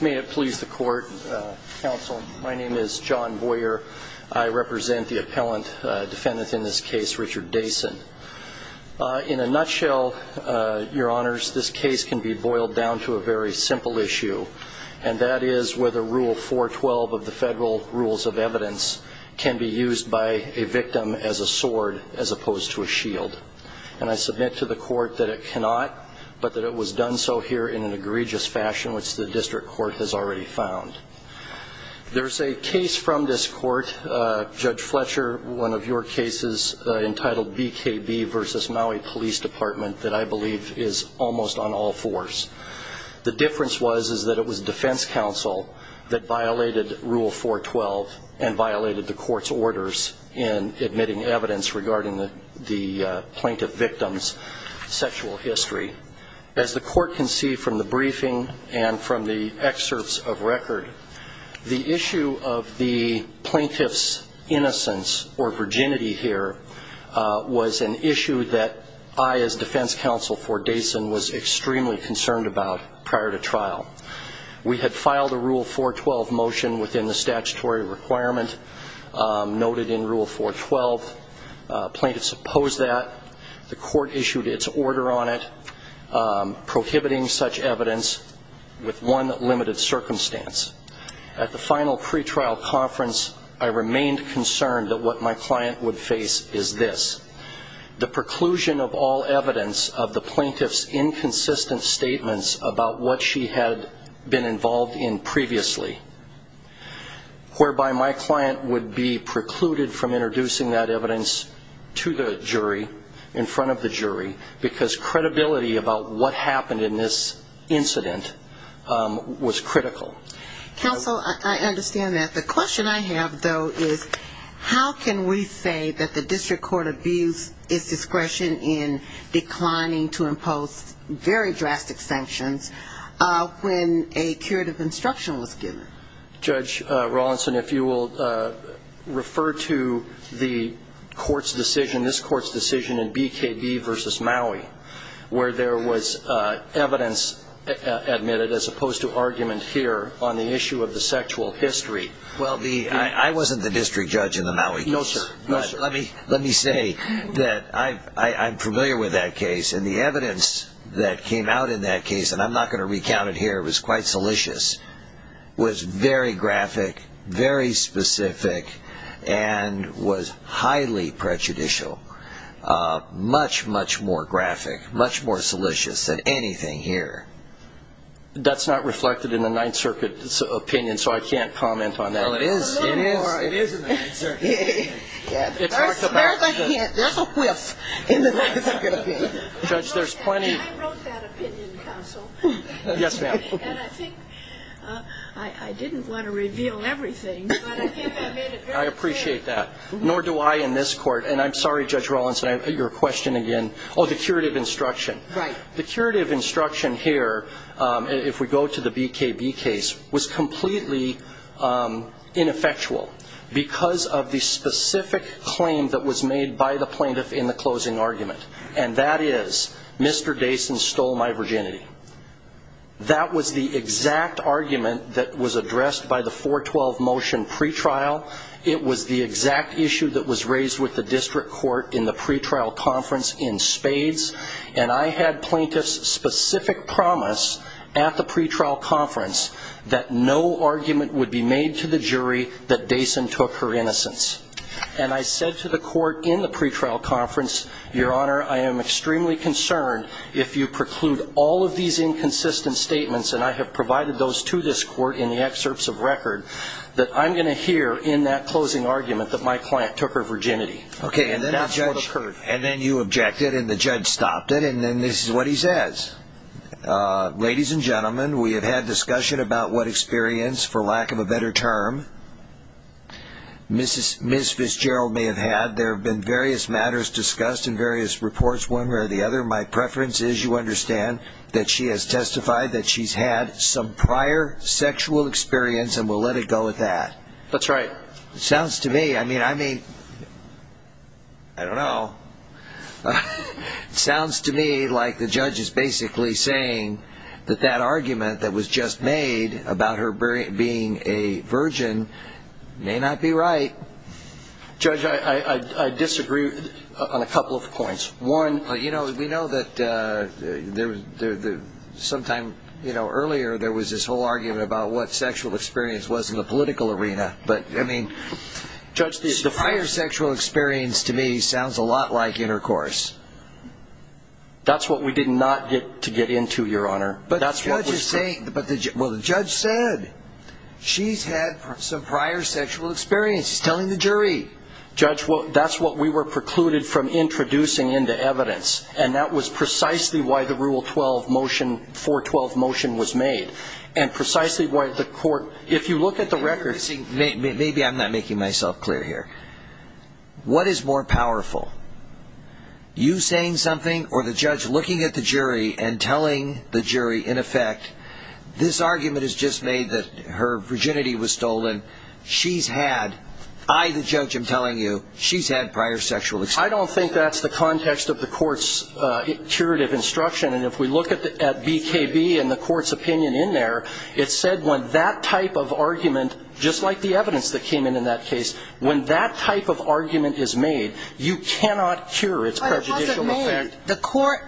May it please the court, counsel. My name is John Boyer. I represent the appellant defendant in this case, Richard Dasen. In a nutshell, your honors, this case can be boiled down to a very simple issue, and that is whether Rule 412 of the Federal Rules of Evidence can be used by a victim as a sword as opposed to a shield. And I submit to the court that it cannot, but that it was done so here in an egregious fashion in which the district court has already found. There's a case from this court, Judge Fletcher, one of your cases entitled BKB v. Maui Police Department that I believe is almost on all fours. The difference was that it was defense counsel that violated Rule 412 and violated the court's orders in admitting evidence regarding the plaintiff victim's sexual history. As the court can see from the briefing and from the excerpts of record, the issue of the plaintiff's innocence or virginity here was an issue that I as defense counsel for Dasen was extremely concerned about prior to trial. We had filed a Rule 412 motion within the statutory requirement noted in Rule 412. Plaintiffs opposed that. The court issued its order on it prohibiting such evidence with one limited circumstance. At the final pretrial conference, I remained concerned that what my client would face is this, the preclusion of all evidence of the plaintiff's inconsistent statements about what she had been involved in previously, whereby my client would be precluded from introducing that evidence to the jury, in front of the jury, because credibility about what happened in this incident was critical. Counsel, I understand that. The question I have, though, is how can we say that the district court abused its discretion in declining to impose very drastic sanctions when a curative instruction was given? Judge Rawlinson, if you will refer to the court's decision, this court's decision in BKB v. Maui, where there was evidence admitted as opposed to argument here on the issue of the sexual history. Well, I wasn't the district judge in the Maui case. No, sir. Let me say that I'm familiar with that case, and the evidence that came out in that case, and I'm not going to recount it here, it was quite salacious, was very graphic, very specific, and was highly prejudicial, much, much more graphic, much more salacious than anything here. That's not reflected in the Ninth Circuit's opinion, so I can't comment on that. Well, it is in the Ninth Circuit opinion. There's a hint, there's a whiff in the Ninth Circuit opinion. Judge, there's plenty. I wrote that opinion, counsel. Yes, ma'am. And I think I didn't want to reveal everything, but I think I made it very clear. I appreciate that. Nor do I in this court, and I'm sorry, Judge Rawlinson, your question again. Oh, the curative instruction. Right. The curative instruction here, if we go to the BKB case, was completely ineffectual because of the specific claim that was made by the plaintiff in the closing argument, and that is Mr. Dason stole my virginity. That was the exact argument that was addressed by the 412 motion pretrial. It was the exact issue that was raised with the district court in the pretrial conference in spades, and I had plaintiff's specific promise at the pretrial conference that no argument would be made to the jury that Dason took her innocence. And I said to the court in the pretrial conference, Your Honor, I am extremely concerned if you preclude all of these inconsistent statements, and I have provided those to this court in the excerpts of record, that I'm going to hear in that closing argument that my client took her virginity. Okay. And that's what occurred. And then you objected, and the judge stopped it, and then this is what he says. Ladies and gentlemen, we have had discussion about what experience, for lack of a better term, Ms. Fitzgerald may have had. There have been various matters discussed in various reports, one way or the other. My preference is you understand that she has testified that she's had some prior sexual experience, and we'll let it go at that. That's right. It sounds to me, I mean, I may, I don't know, it sounds to me like the judge is basically saying that that argument that was just made about her being a virgin may not be right. Judge, I disagree on a couple of points. One, we know that sometime earlier there was this whole argument about what sexual experience was in the political arena, but, I mean, the prior sexual experience to me sounds a lot like intercourse. That's what we did not get to get into, Your Honor. But the judge is saying, well, the judge said she's had some prior sexual experience. He's telling the jury. Judge, that's what we were precluded from introducing into evidence, and that was precisely why the Rule 12 motion, 412 motion was made, and precisely why the court, if you look at the records. Maybe I'm not making myself clear here. What is more powerful, you saying something or the judge looking at the jury and telling the jury, in effect, this argument is just made that her virginity was stolen, she's had, I, the judge, am telling you, she's had prior sexual experience. I don't think that's the context of the court's curative instruction, and if we look at BKB and the court's opinion in there, it said when that type of argument, just like the evidence that came in in that case, when that type of argument is made, you cannot cure its prejudicial effect. But it wasn't made. The court,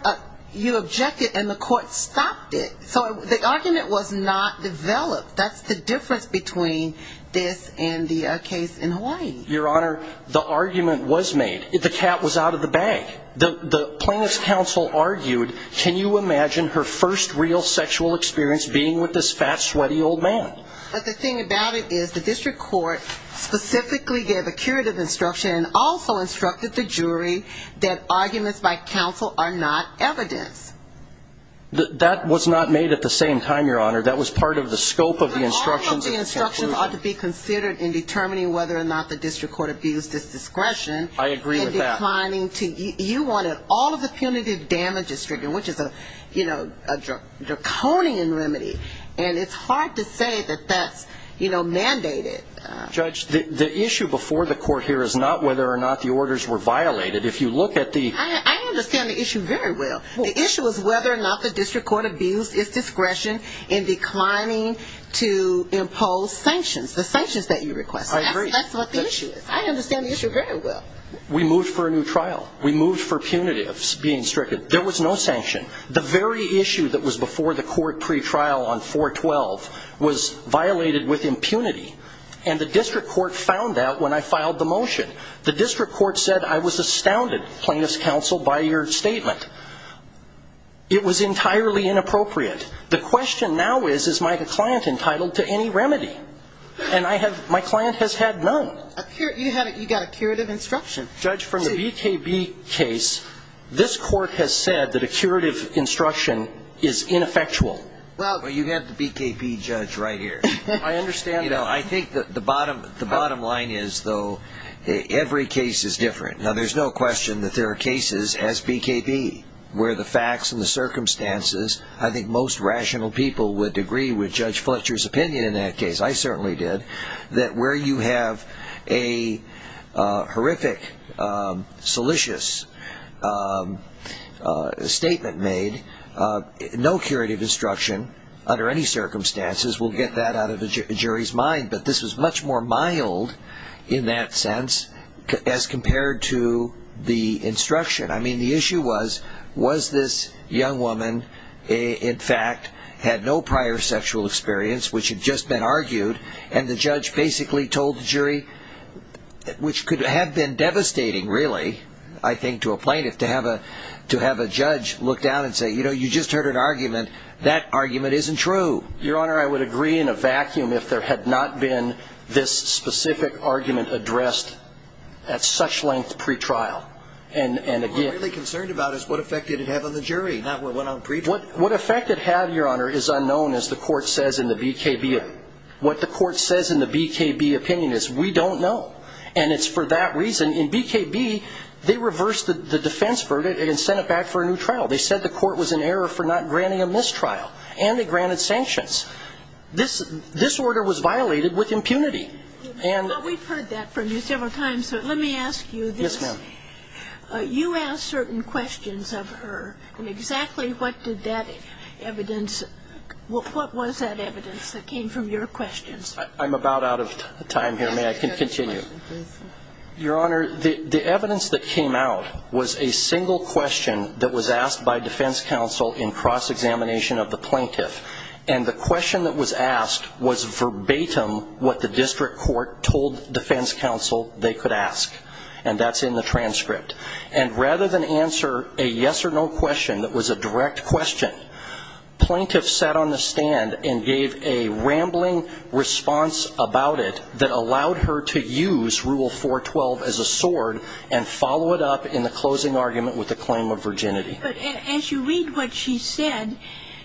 you objected and the court stopped it. So the argument was not developed. That's the difference between this and the case in Hawaii. Your Honor, the argument was made. The cat was out of the bag. The plaintiff's counsel argued. Can you imagine her first real sexual experience being with this fat, sweaty old man? But the thing about it is the district court specifically gave a curative instruction and also instructed the jury that arguments by counsel are not evidence. That was not made at the same time, Your Honor. That was part of the scope of the instruction. All of the instructions ought to be considered in determining whether or not the district court abused its discretion. I agree with that. You wanted all of the punitive damages triggered, which is a draconian remedy, and it's hard to say that that's mandated. Judge, the issue before the court here is not whether or not the orders were violated. If you look at the – I understand the issue very well. The issue is whether or not the district court abused its discretion in declining to impose sanctions, the sanctions that you requested. I agree. That's what the issue is. I understand the issue very well. We moved for a new trial. We moved for punitives being stricken. There was no sanction. The very issue that was before the court pretrial on 4-12 was violated with impunity, and the district court found that when I filed the motion. The district court said I was astounded, plaintiff's counsel, by your statement. It was entirely inappropriate. The question now is, is my client entitled to any remedy? And I have – my client has had none. You got a curative instruction. Judge, from the BKB case, this court has said that a curative instruction is ineffectual. Well, you have the BKB judge right here. I understand that. I think that the bottom line is, though, every case is different. Now, there's no question that there are cases as BKB where the facts and the circumstances, I think most rational people would agree with Judge Fletcher's opinion in that case. I certainly did. I think that where you have a horrific, salacious statement made, no curative instruction under any circumstances will get that out of a jury's mind. But this was much more mild in that sense as compared to the instruction. I mean, the issue was, was this young woman, in fact, had no prior sexual experience, which had just been argued, and the judge basically told the jury, which could have been devastating, really, I think, to a plaintiff, to have a judge look down and say, you know, you just heard an argument. That argument isn't true. Your Honor, I would agree in a vacuum if there had not been this specific argument addressed at such length pre-trial. What I'm really concerned about is what effect did it have on the jury, not what went on pre-trial. What effect it had, Your Honor, is unknown, as the court says in the BKB. What the court says in the BKB opinion is we don't know, and it's for that reason. In BKB, they reversed the defense verdict and sent it back for a new trial. They said the court was in error for not granting a mistrial, and they granted sanctions. This order was violated with impunity. Well, we've heard that from you several times, so let me ask you this. Yes, ma'am. You asked certain questions of her, and exactly what did that evidence ñ what was that evidence that came from your questions? I'm about out of time here. May I continue? Your Honor, the evidence that came out was a single question that was asked by defense counsel in cross-examination of the plaintiff, and the question that was asked was verbatim what the district court told defense counsel they could ask, and that's in the transcript. And rather than answer a yes-or-no question that was a direct question, plaintiff sat on the stand and gave a rambling response about it that allowed her to use Rule 412 as a sword and follow it up in the closing argument with a claim of virginity. But as you read what she said,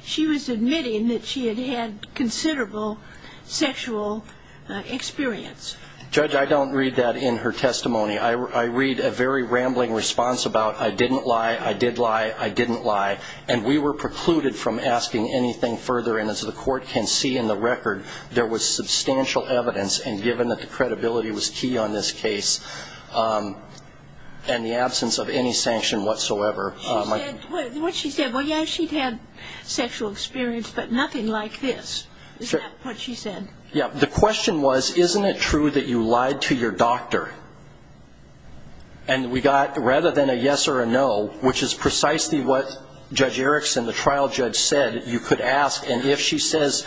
she was admitting that she had had considerable sexual experience. Judge, I don't read that in her testimony. I read a very rambling response about, I didn't lie, I did lie, I didn't lie, and we were precluded from asking anything further, and as the court can see in the record, there was substantial evidence, and given that the credibility was key on this case and the absence of any sanction whatsoever. What she said, well, yes, she'd had sexual experience, but nothing like this. Is that what she said? Yeah. The question was, isn't it true that you lied to your doctor, and we got rather than a yes or a no, which is precisely what Judge Erickson, the trial judge, said, you could ask, and if she says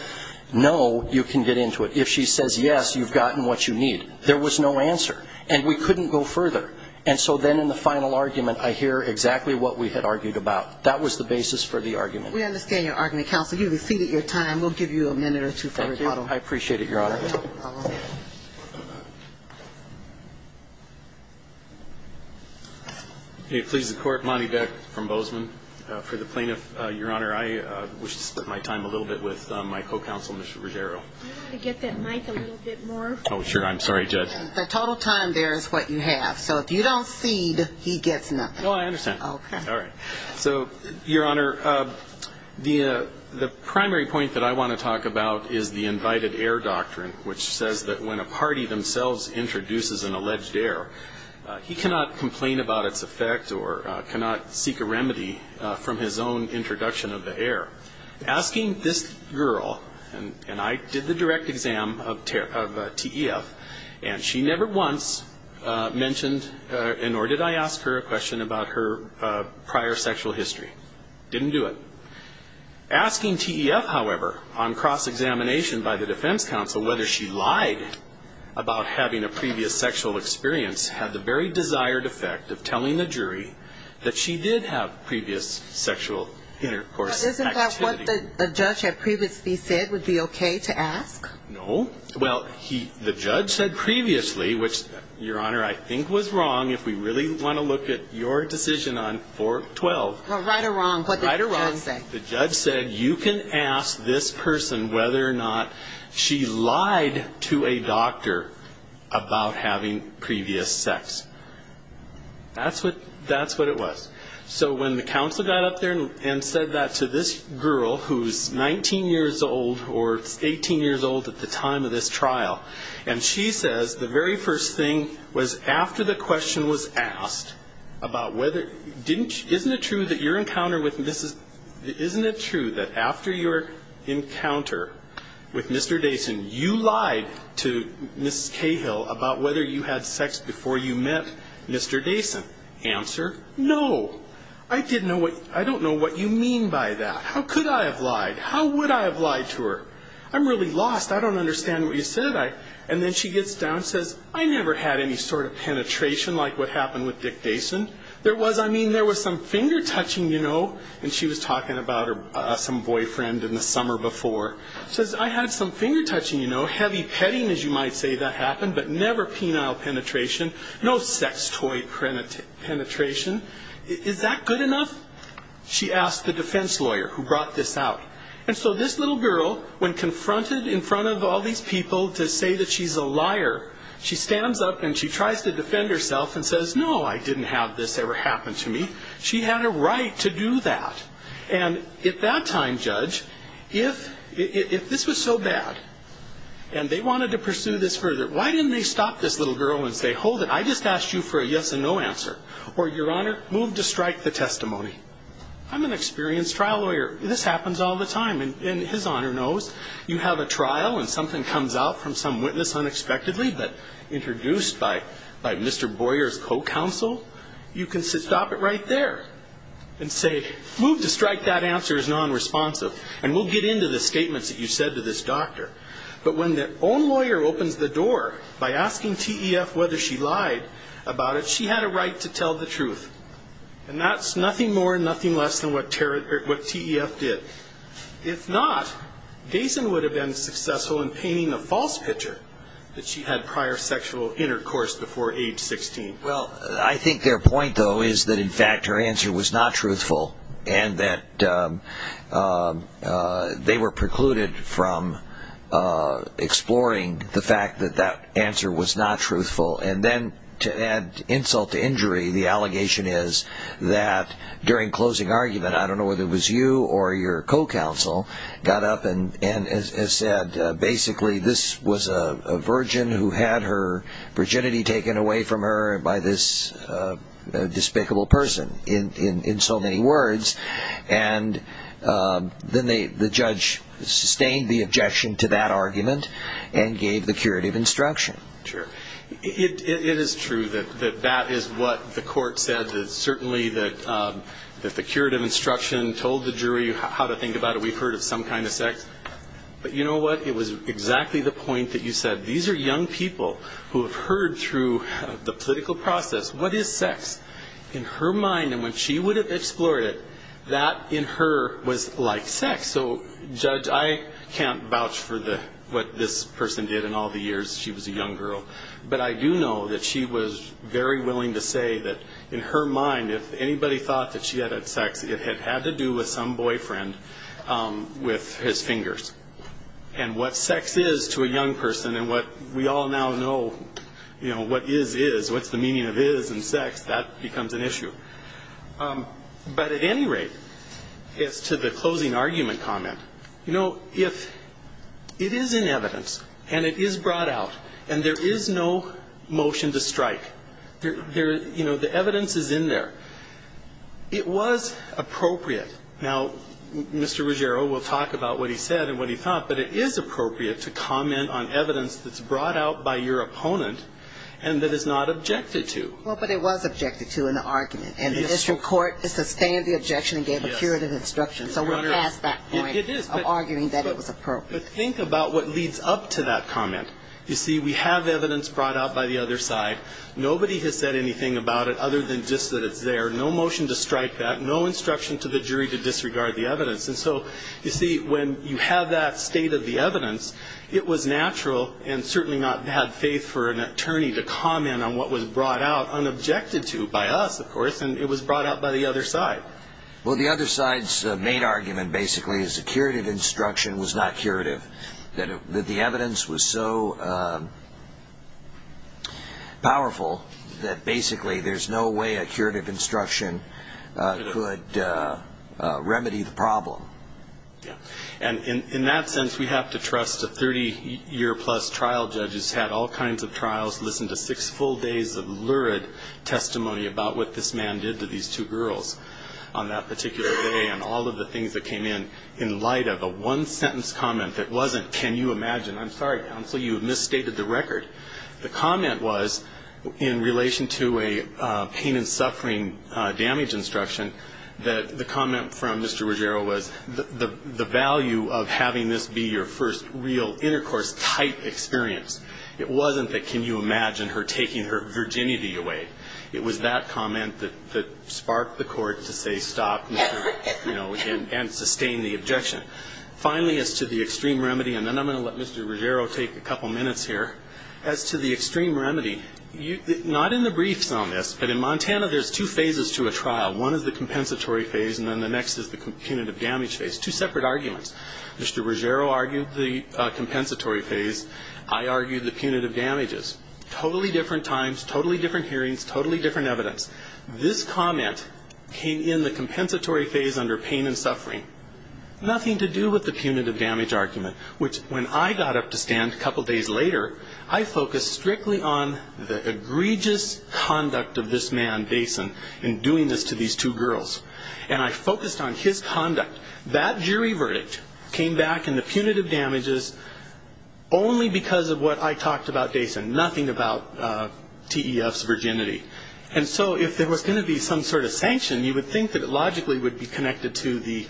no, you can get into it. If she says yes, you've gotten what you need. There was no answer, and we couldn't go further. And so then in the final argument, I hear exactly what we had argued about. That was the basis for the argument. We understand your argument. Counsel, you've exceeded your time. We'll give you a minute or two. Thank you. I appreciate it, Your Honor. It pleases the court, Monty Beck from Bozeman. For the plaintiff, Your Honor, I wish to split my time a little bit with my co-counsel, Mr. Ruggiero. Can you get that mic a little bit more? Oh, sure. I'm sorry, Judge. The total time there is what you have. So if you don't cede, he gets nothing. Oh, I understand. Okay. All right. So, Your Honor, the primary point that I want to talk about is the invited heir doctrine, which says that when a party themselves introduces an alleged heir, he cannot complain about its effect or cannot seek a remedy from his own introduction of the heir. Asking this girl, and I did the direct exam of TEF, and she never once mentioned, nor did I ask her a question about her prior sexual history. Didn't do it. Asking TEF, however, on cross-examination by the defense counsel whether she lied about having a previous sexual experience had the very desired effect of telling the jury that she did have previous sexual intercourse activity. Isn't that what the judge had previously said would be okay to ask? No. Well, the judge said previously, which, Your Honor, I think was wrong, if we really want to look at your decision on 412. Right or wrong, what did the judge say? The judge said you can ask this person whether or not she lied to a doctor about having previous sex. That's what it was. So when the counsel got up there and said that to this girl, who's 19 years old or 18 years old at the time of this trial, and she says the very first thing was after the question was asked about whether, isn't it true that after your encounter with Mr. Dason, you lied to Ms. Cahill about whether you had sex before you met Mr. Dason? Answer, no. I don't know what you mean by that. How could I have lied? How would I have lied to her? I'm really lost. I don't understand what you said. And then she gets down and says, I never had any sort of penetration like what happened with Dick Dason. There was, I mean, there was some finger-touching, you know, and she was talking about some boyfriend in the summer before. She says, I had some finger-touching, you know, heavy petting, as you might say, that happened, but never penile penetration, no sex toy penetration. Is that good enough? She asked the defense lawyer who brought this out. And so this little girl, when confronted in front of all these people to say that she's a liar, she stands up and she tries to defend herself and says, no, I didn't have this ever happen to me. She had a right to do that. And at that time, Judge, if this was so bad and they wanted to pursue this further, why didn't they stop this little girl and say, hold it, I just asked you for a yes and no answer, or, Your Honor, move to strike the testimony. I'm an experienced trial lawyer. This happens all the time, and His Honor knows. You have a trial and something comes out from some witness unexpectedly, but introduced by Mr. Boyer's co-counsel, you can stop it right there and say, move to strike that answer as nonresponsive, and we'll get into the statements that you said to this doctor. But when the own lawyer opens the door by asking TEF whether she lied about it, does she have a right to tell the truth? And that's nothing more and nothing less than what TEF did. If not, Gayson would have been successful in painting a false picture that she had prior sexual intercourse before age 16. Well, I think their point, though, is that, in fact, her answer was not truthful and that they were precluded from exploring the fact that that answer was not truthful. And then to add insult to injury, the allegation is that during closing argument, I don't know whether it was you or your co-counsel, got up and said, basically, this was a virgin who had her virginity taken away from her by this despicable person, in so many words. And then the judge sustained the objection to that argument and gave the curative instruction. Sure. It is true that that is what the court said, that certainly that the curative instruction told the jury how to think about it. We've heard of some kind of sex. But you know what? It was exactly the point that you said. These are young people who have heard through the political process, what is sex in her mind, and when she would have explored it, that in her was like sex. So, Judge, I can't vouch for what this person did in all the years she was a young girl. But I do know that she was very willing to say that in her mind, if anybody thought that she had had sex, it had had to do with some boyfriend with his fingers. And what sex is to a young person and what we all now know what is is, what's the meaning of is in sex, that becomes an issue. But at any rate, as to the closing argument comment, you know, if it is in evidence and it is brought out and there is no motion to strike, you know, the evidence is in there, it was appropriate. Now, Mr. Ruggiero will talk about what he said and what he thought, but it is appropriate to comment on evidence that's brought out by your opponent and that is not objected to. Well, but it was objected to in the argument. And the district court sustained the objection and gave a curative instruction. So we're past that point of arguing that it was appropriate. But think about what leads up to that comment. You see, we have evidence brought out by the other side. Nobody has said anything about it other than just that it's there. No motion to strike that. No instruction to the jury to disregard the evidence. And so, you see, when you have that state of the evidence, it was natural and certainly not had faith for an attorney to comment on what was brought out unobjected to by us, of course, and it was brought out by the other side. Well, the other side's main argument, basically, is the curative instruction was not curative, that the evidence was so powerful that, basically, there's no way a curative instruction could remedy the problem. And in that sense, we have to trust a 30-year-plus trial judge who's had all kinds of trials, listened to six full days of lurid testimony about what this man did to these two girls on that particular day and all of the things that came in, in light of a one-sentence comment that wasn't, can you imagine? I'm sorry, counsel, you have misstated the record. The comment was, in relation to a pain and suffering damage instruction, that the comment from Mr. Ruggiero was, the value of having this be your first real intercourse type experience. It wasn't the can you imagine her taking her virginity away. It was that comment that sparked the court to say stop and sustain the objection. Finally, as to the extreme remedy, and then I'm going to let Mr. Ruggiero take a couple minutes here. As to the extreme remedy, not in the briefs on this, but in Montana there's two phases to a trial. One is the compensatory phase and then the next is the punitive damage phase. Two separate arguments. Mr. Ruggiero argued the compensatory phase. I argued the punitive damages. Totally different times, totally different hearings, totally different evidence. This comment came in the compensatory phase under pain and suffering. Nothing to do with the punitive damage argument, which when I got up to stand a couple days later, I focused strictly on the egregious conduct of this man, Dason, in doing this to these two girls. And I focused on his conduct. That jury verdict came back in the punitive damages only because of what I talked about, Dason. Nothing about TEF's virginity. And so if there was going to be some sort of sanction, you would think that it logically would be connected to the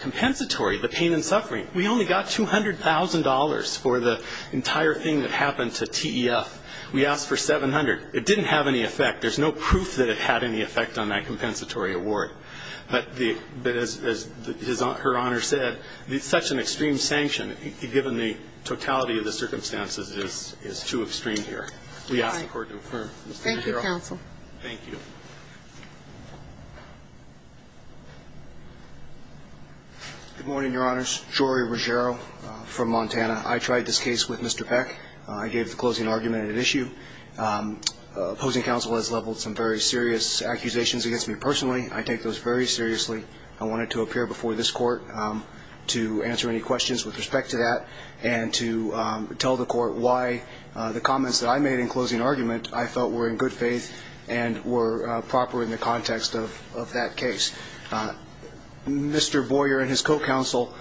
compensatory, the pain and suffering. We only got $200,000 for the entire thing that happened to TEF. We asked for 700. It didn't have any effect. There's no proof that it had any effect on that compensatory award. But as Her Honor said, such an extreme sanction, given the totality of the circumstances, is too extreme here. We ask the Court to confirm. Thank you, counsel. Thank you. Good morning, Your Honors. Jory Ruggiero from Montana. I tried this case with Mr. Peck. I gave the closing argument at issue. Opposing counsel has leveled some very serious accusations against me personally. I take those very seriously. I wanted to appear before this Court to answer any questions with respect to that and to tell the Court why the comments that I made in closing argument I felt were in good faith and were proper in the context of that case. Mr. Boyer and his co-counsel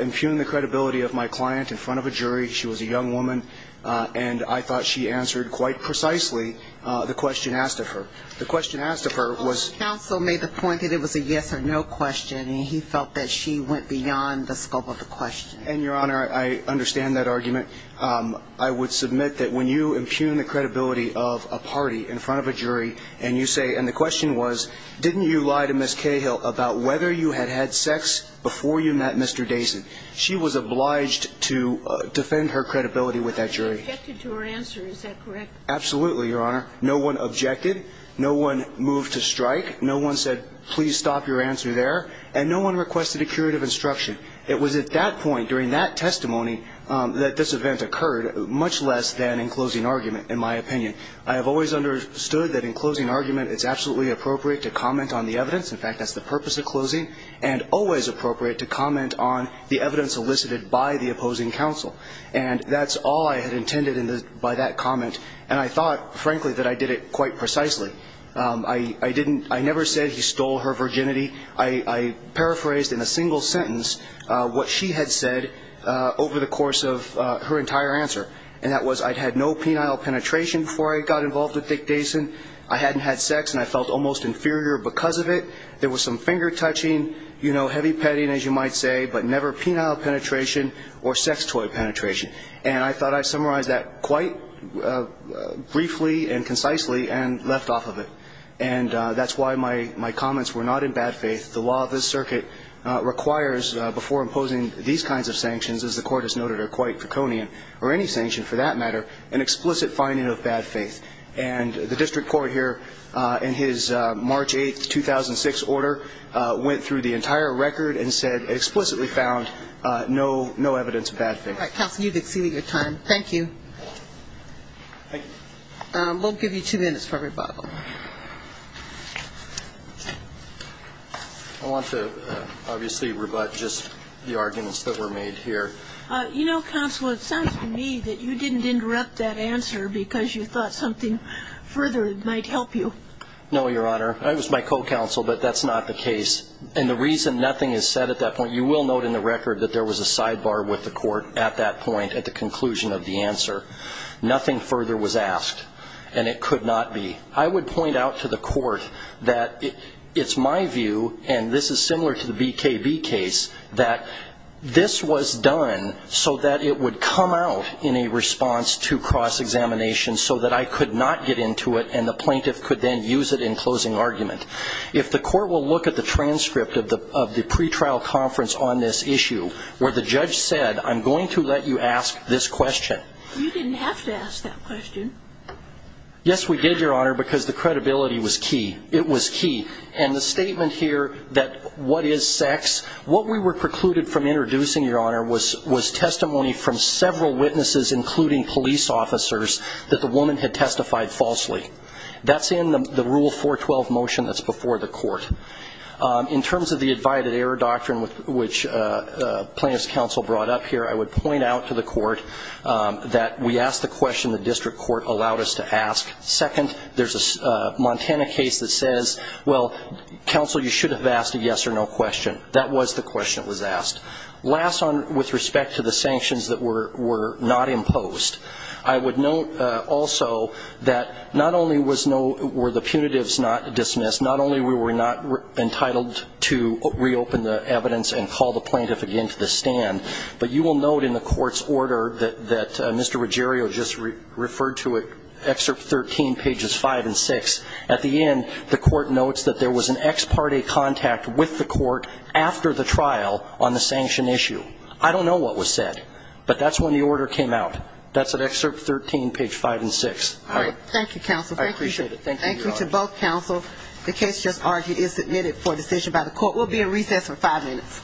impugned the credibility of my client in front of a jury. She was a young woman, and I thought she answered quite precisely the question asked of her. The question asked of her was ---- Opposing counsel made the point that it was a yes or no question, and he felt that she went beyond the scope of the question. And, Your Honor, I understand that argument. I would submit that when you impugn the credibility of a party in front of a jury and you say, and the question was, didn't you lie to Ms. Cahill about whether you had had sex before you met Mr. Dason? She was obliged to defend her credibility with that jury. I objected to her answer. Is that correct? Absolutely, Your Honor. No one objected. No one moved to strike. No one said, please stop your answer there. And no one requested a curative instruction. It was at that point during that testimony that this event occurred, much less than in closing argument, in my opinion. I have always understood that in closing argument it's absolutely appropriate to comment on the evidence. In fact, that's the purpose of closing, and always appropriate to comment on the evidence elicited by the opposing counsel. And that's all I had intended by that comment, and I thought, frankly, that I did it quite precisely. I didn't ---- I never said he stole her virginity. I paraphrased in a single sentence what she had said over the course of her entire answer, and that was I'd had no penile penetration before I got involved with Dick Dason. I hadn't had sex, and I felt almost inferior because of it. There was some finger touching, you know, heavy petting, as you might say, but never penile penetration or sex toy penetration. And I thought I summarized that quite briefly and concisely and left off of it. And that's why my comments were not in bad faith. The law of this circuit requires, before imposing these kinds of sanctions, as the Court has noted are quite draconian, or any sanction for that matter, an explicit finding of bad faith. And the district court here, in his March 8, 2006 order, went through the entire record and said it explicitly found no evidence of bad faith. All right. Counsel, you've exceeded your time. Thank you. Thank you. We'll give you two minutes for rebuttal. I want to obviously rebut just the arguments that were made here. You know, Counsel, it sounds to me that you didn't interrupt that answer because you thought something further might help you. No, Your Honor. It was my co-counsel, but that's not the case. And the reason nothing is said at that point, you will note in the record that there was a sidebar with the Court at that point, at the conclusion of the answer. Nothing further was asked, and it could not be. I would point out to the Court that it's my view, and this is similar to the BKB case, that this was done so that it would come out in a response to cross-examination so that I could not get into it and the plaintiff could then use it in closing argument. If the Court will look at the transcript of the pretrial conference on this issue, where the judge said, I'm going to let you ask this question. You didn't have to ask that question. Yes, we did, Your Honor, because the credibility was key. It was key. And the statement here that what is sex, what we were precluded from introducing, Your Honor, was testimony from several witnesses, including police officers, that the woman had testified falsely. That's in the Rule 412 motion that's before the Court. In terms of the Advided Error Doctrine, which Plaintiff's Counsel brought up here, I would point out to the Court that we asked the question the district court allowed us to ask. Second, there's a Montana case that says, well, counsel, you should have asked a yes or no question. That was the question that was asked. Last, with respect to the sanctions that were not imposed, I would note also that not only were the punitives not dismissed, not only were we not entitled to reopen the evidence and call the plaintiff again to the stand, but you will note in the Court's order that Mr. Ruggiero just referred to it, excerpt 13, pages 5 and 6. At the end, the Court notes that there was an ex parte contact with the Court after the trial on the sanction issue. I don't know what was said, but that's when the order came out. That's at excerpt 13, page 5 and 6. All right. Thank you, counsel. I appreciate it. Thank you, Your Honor. Thank you to both counsel. The case just argued is submitted for decision by the Court. We'll be at recess for five minutes.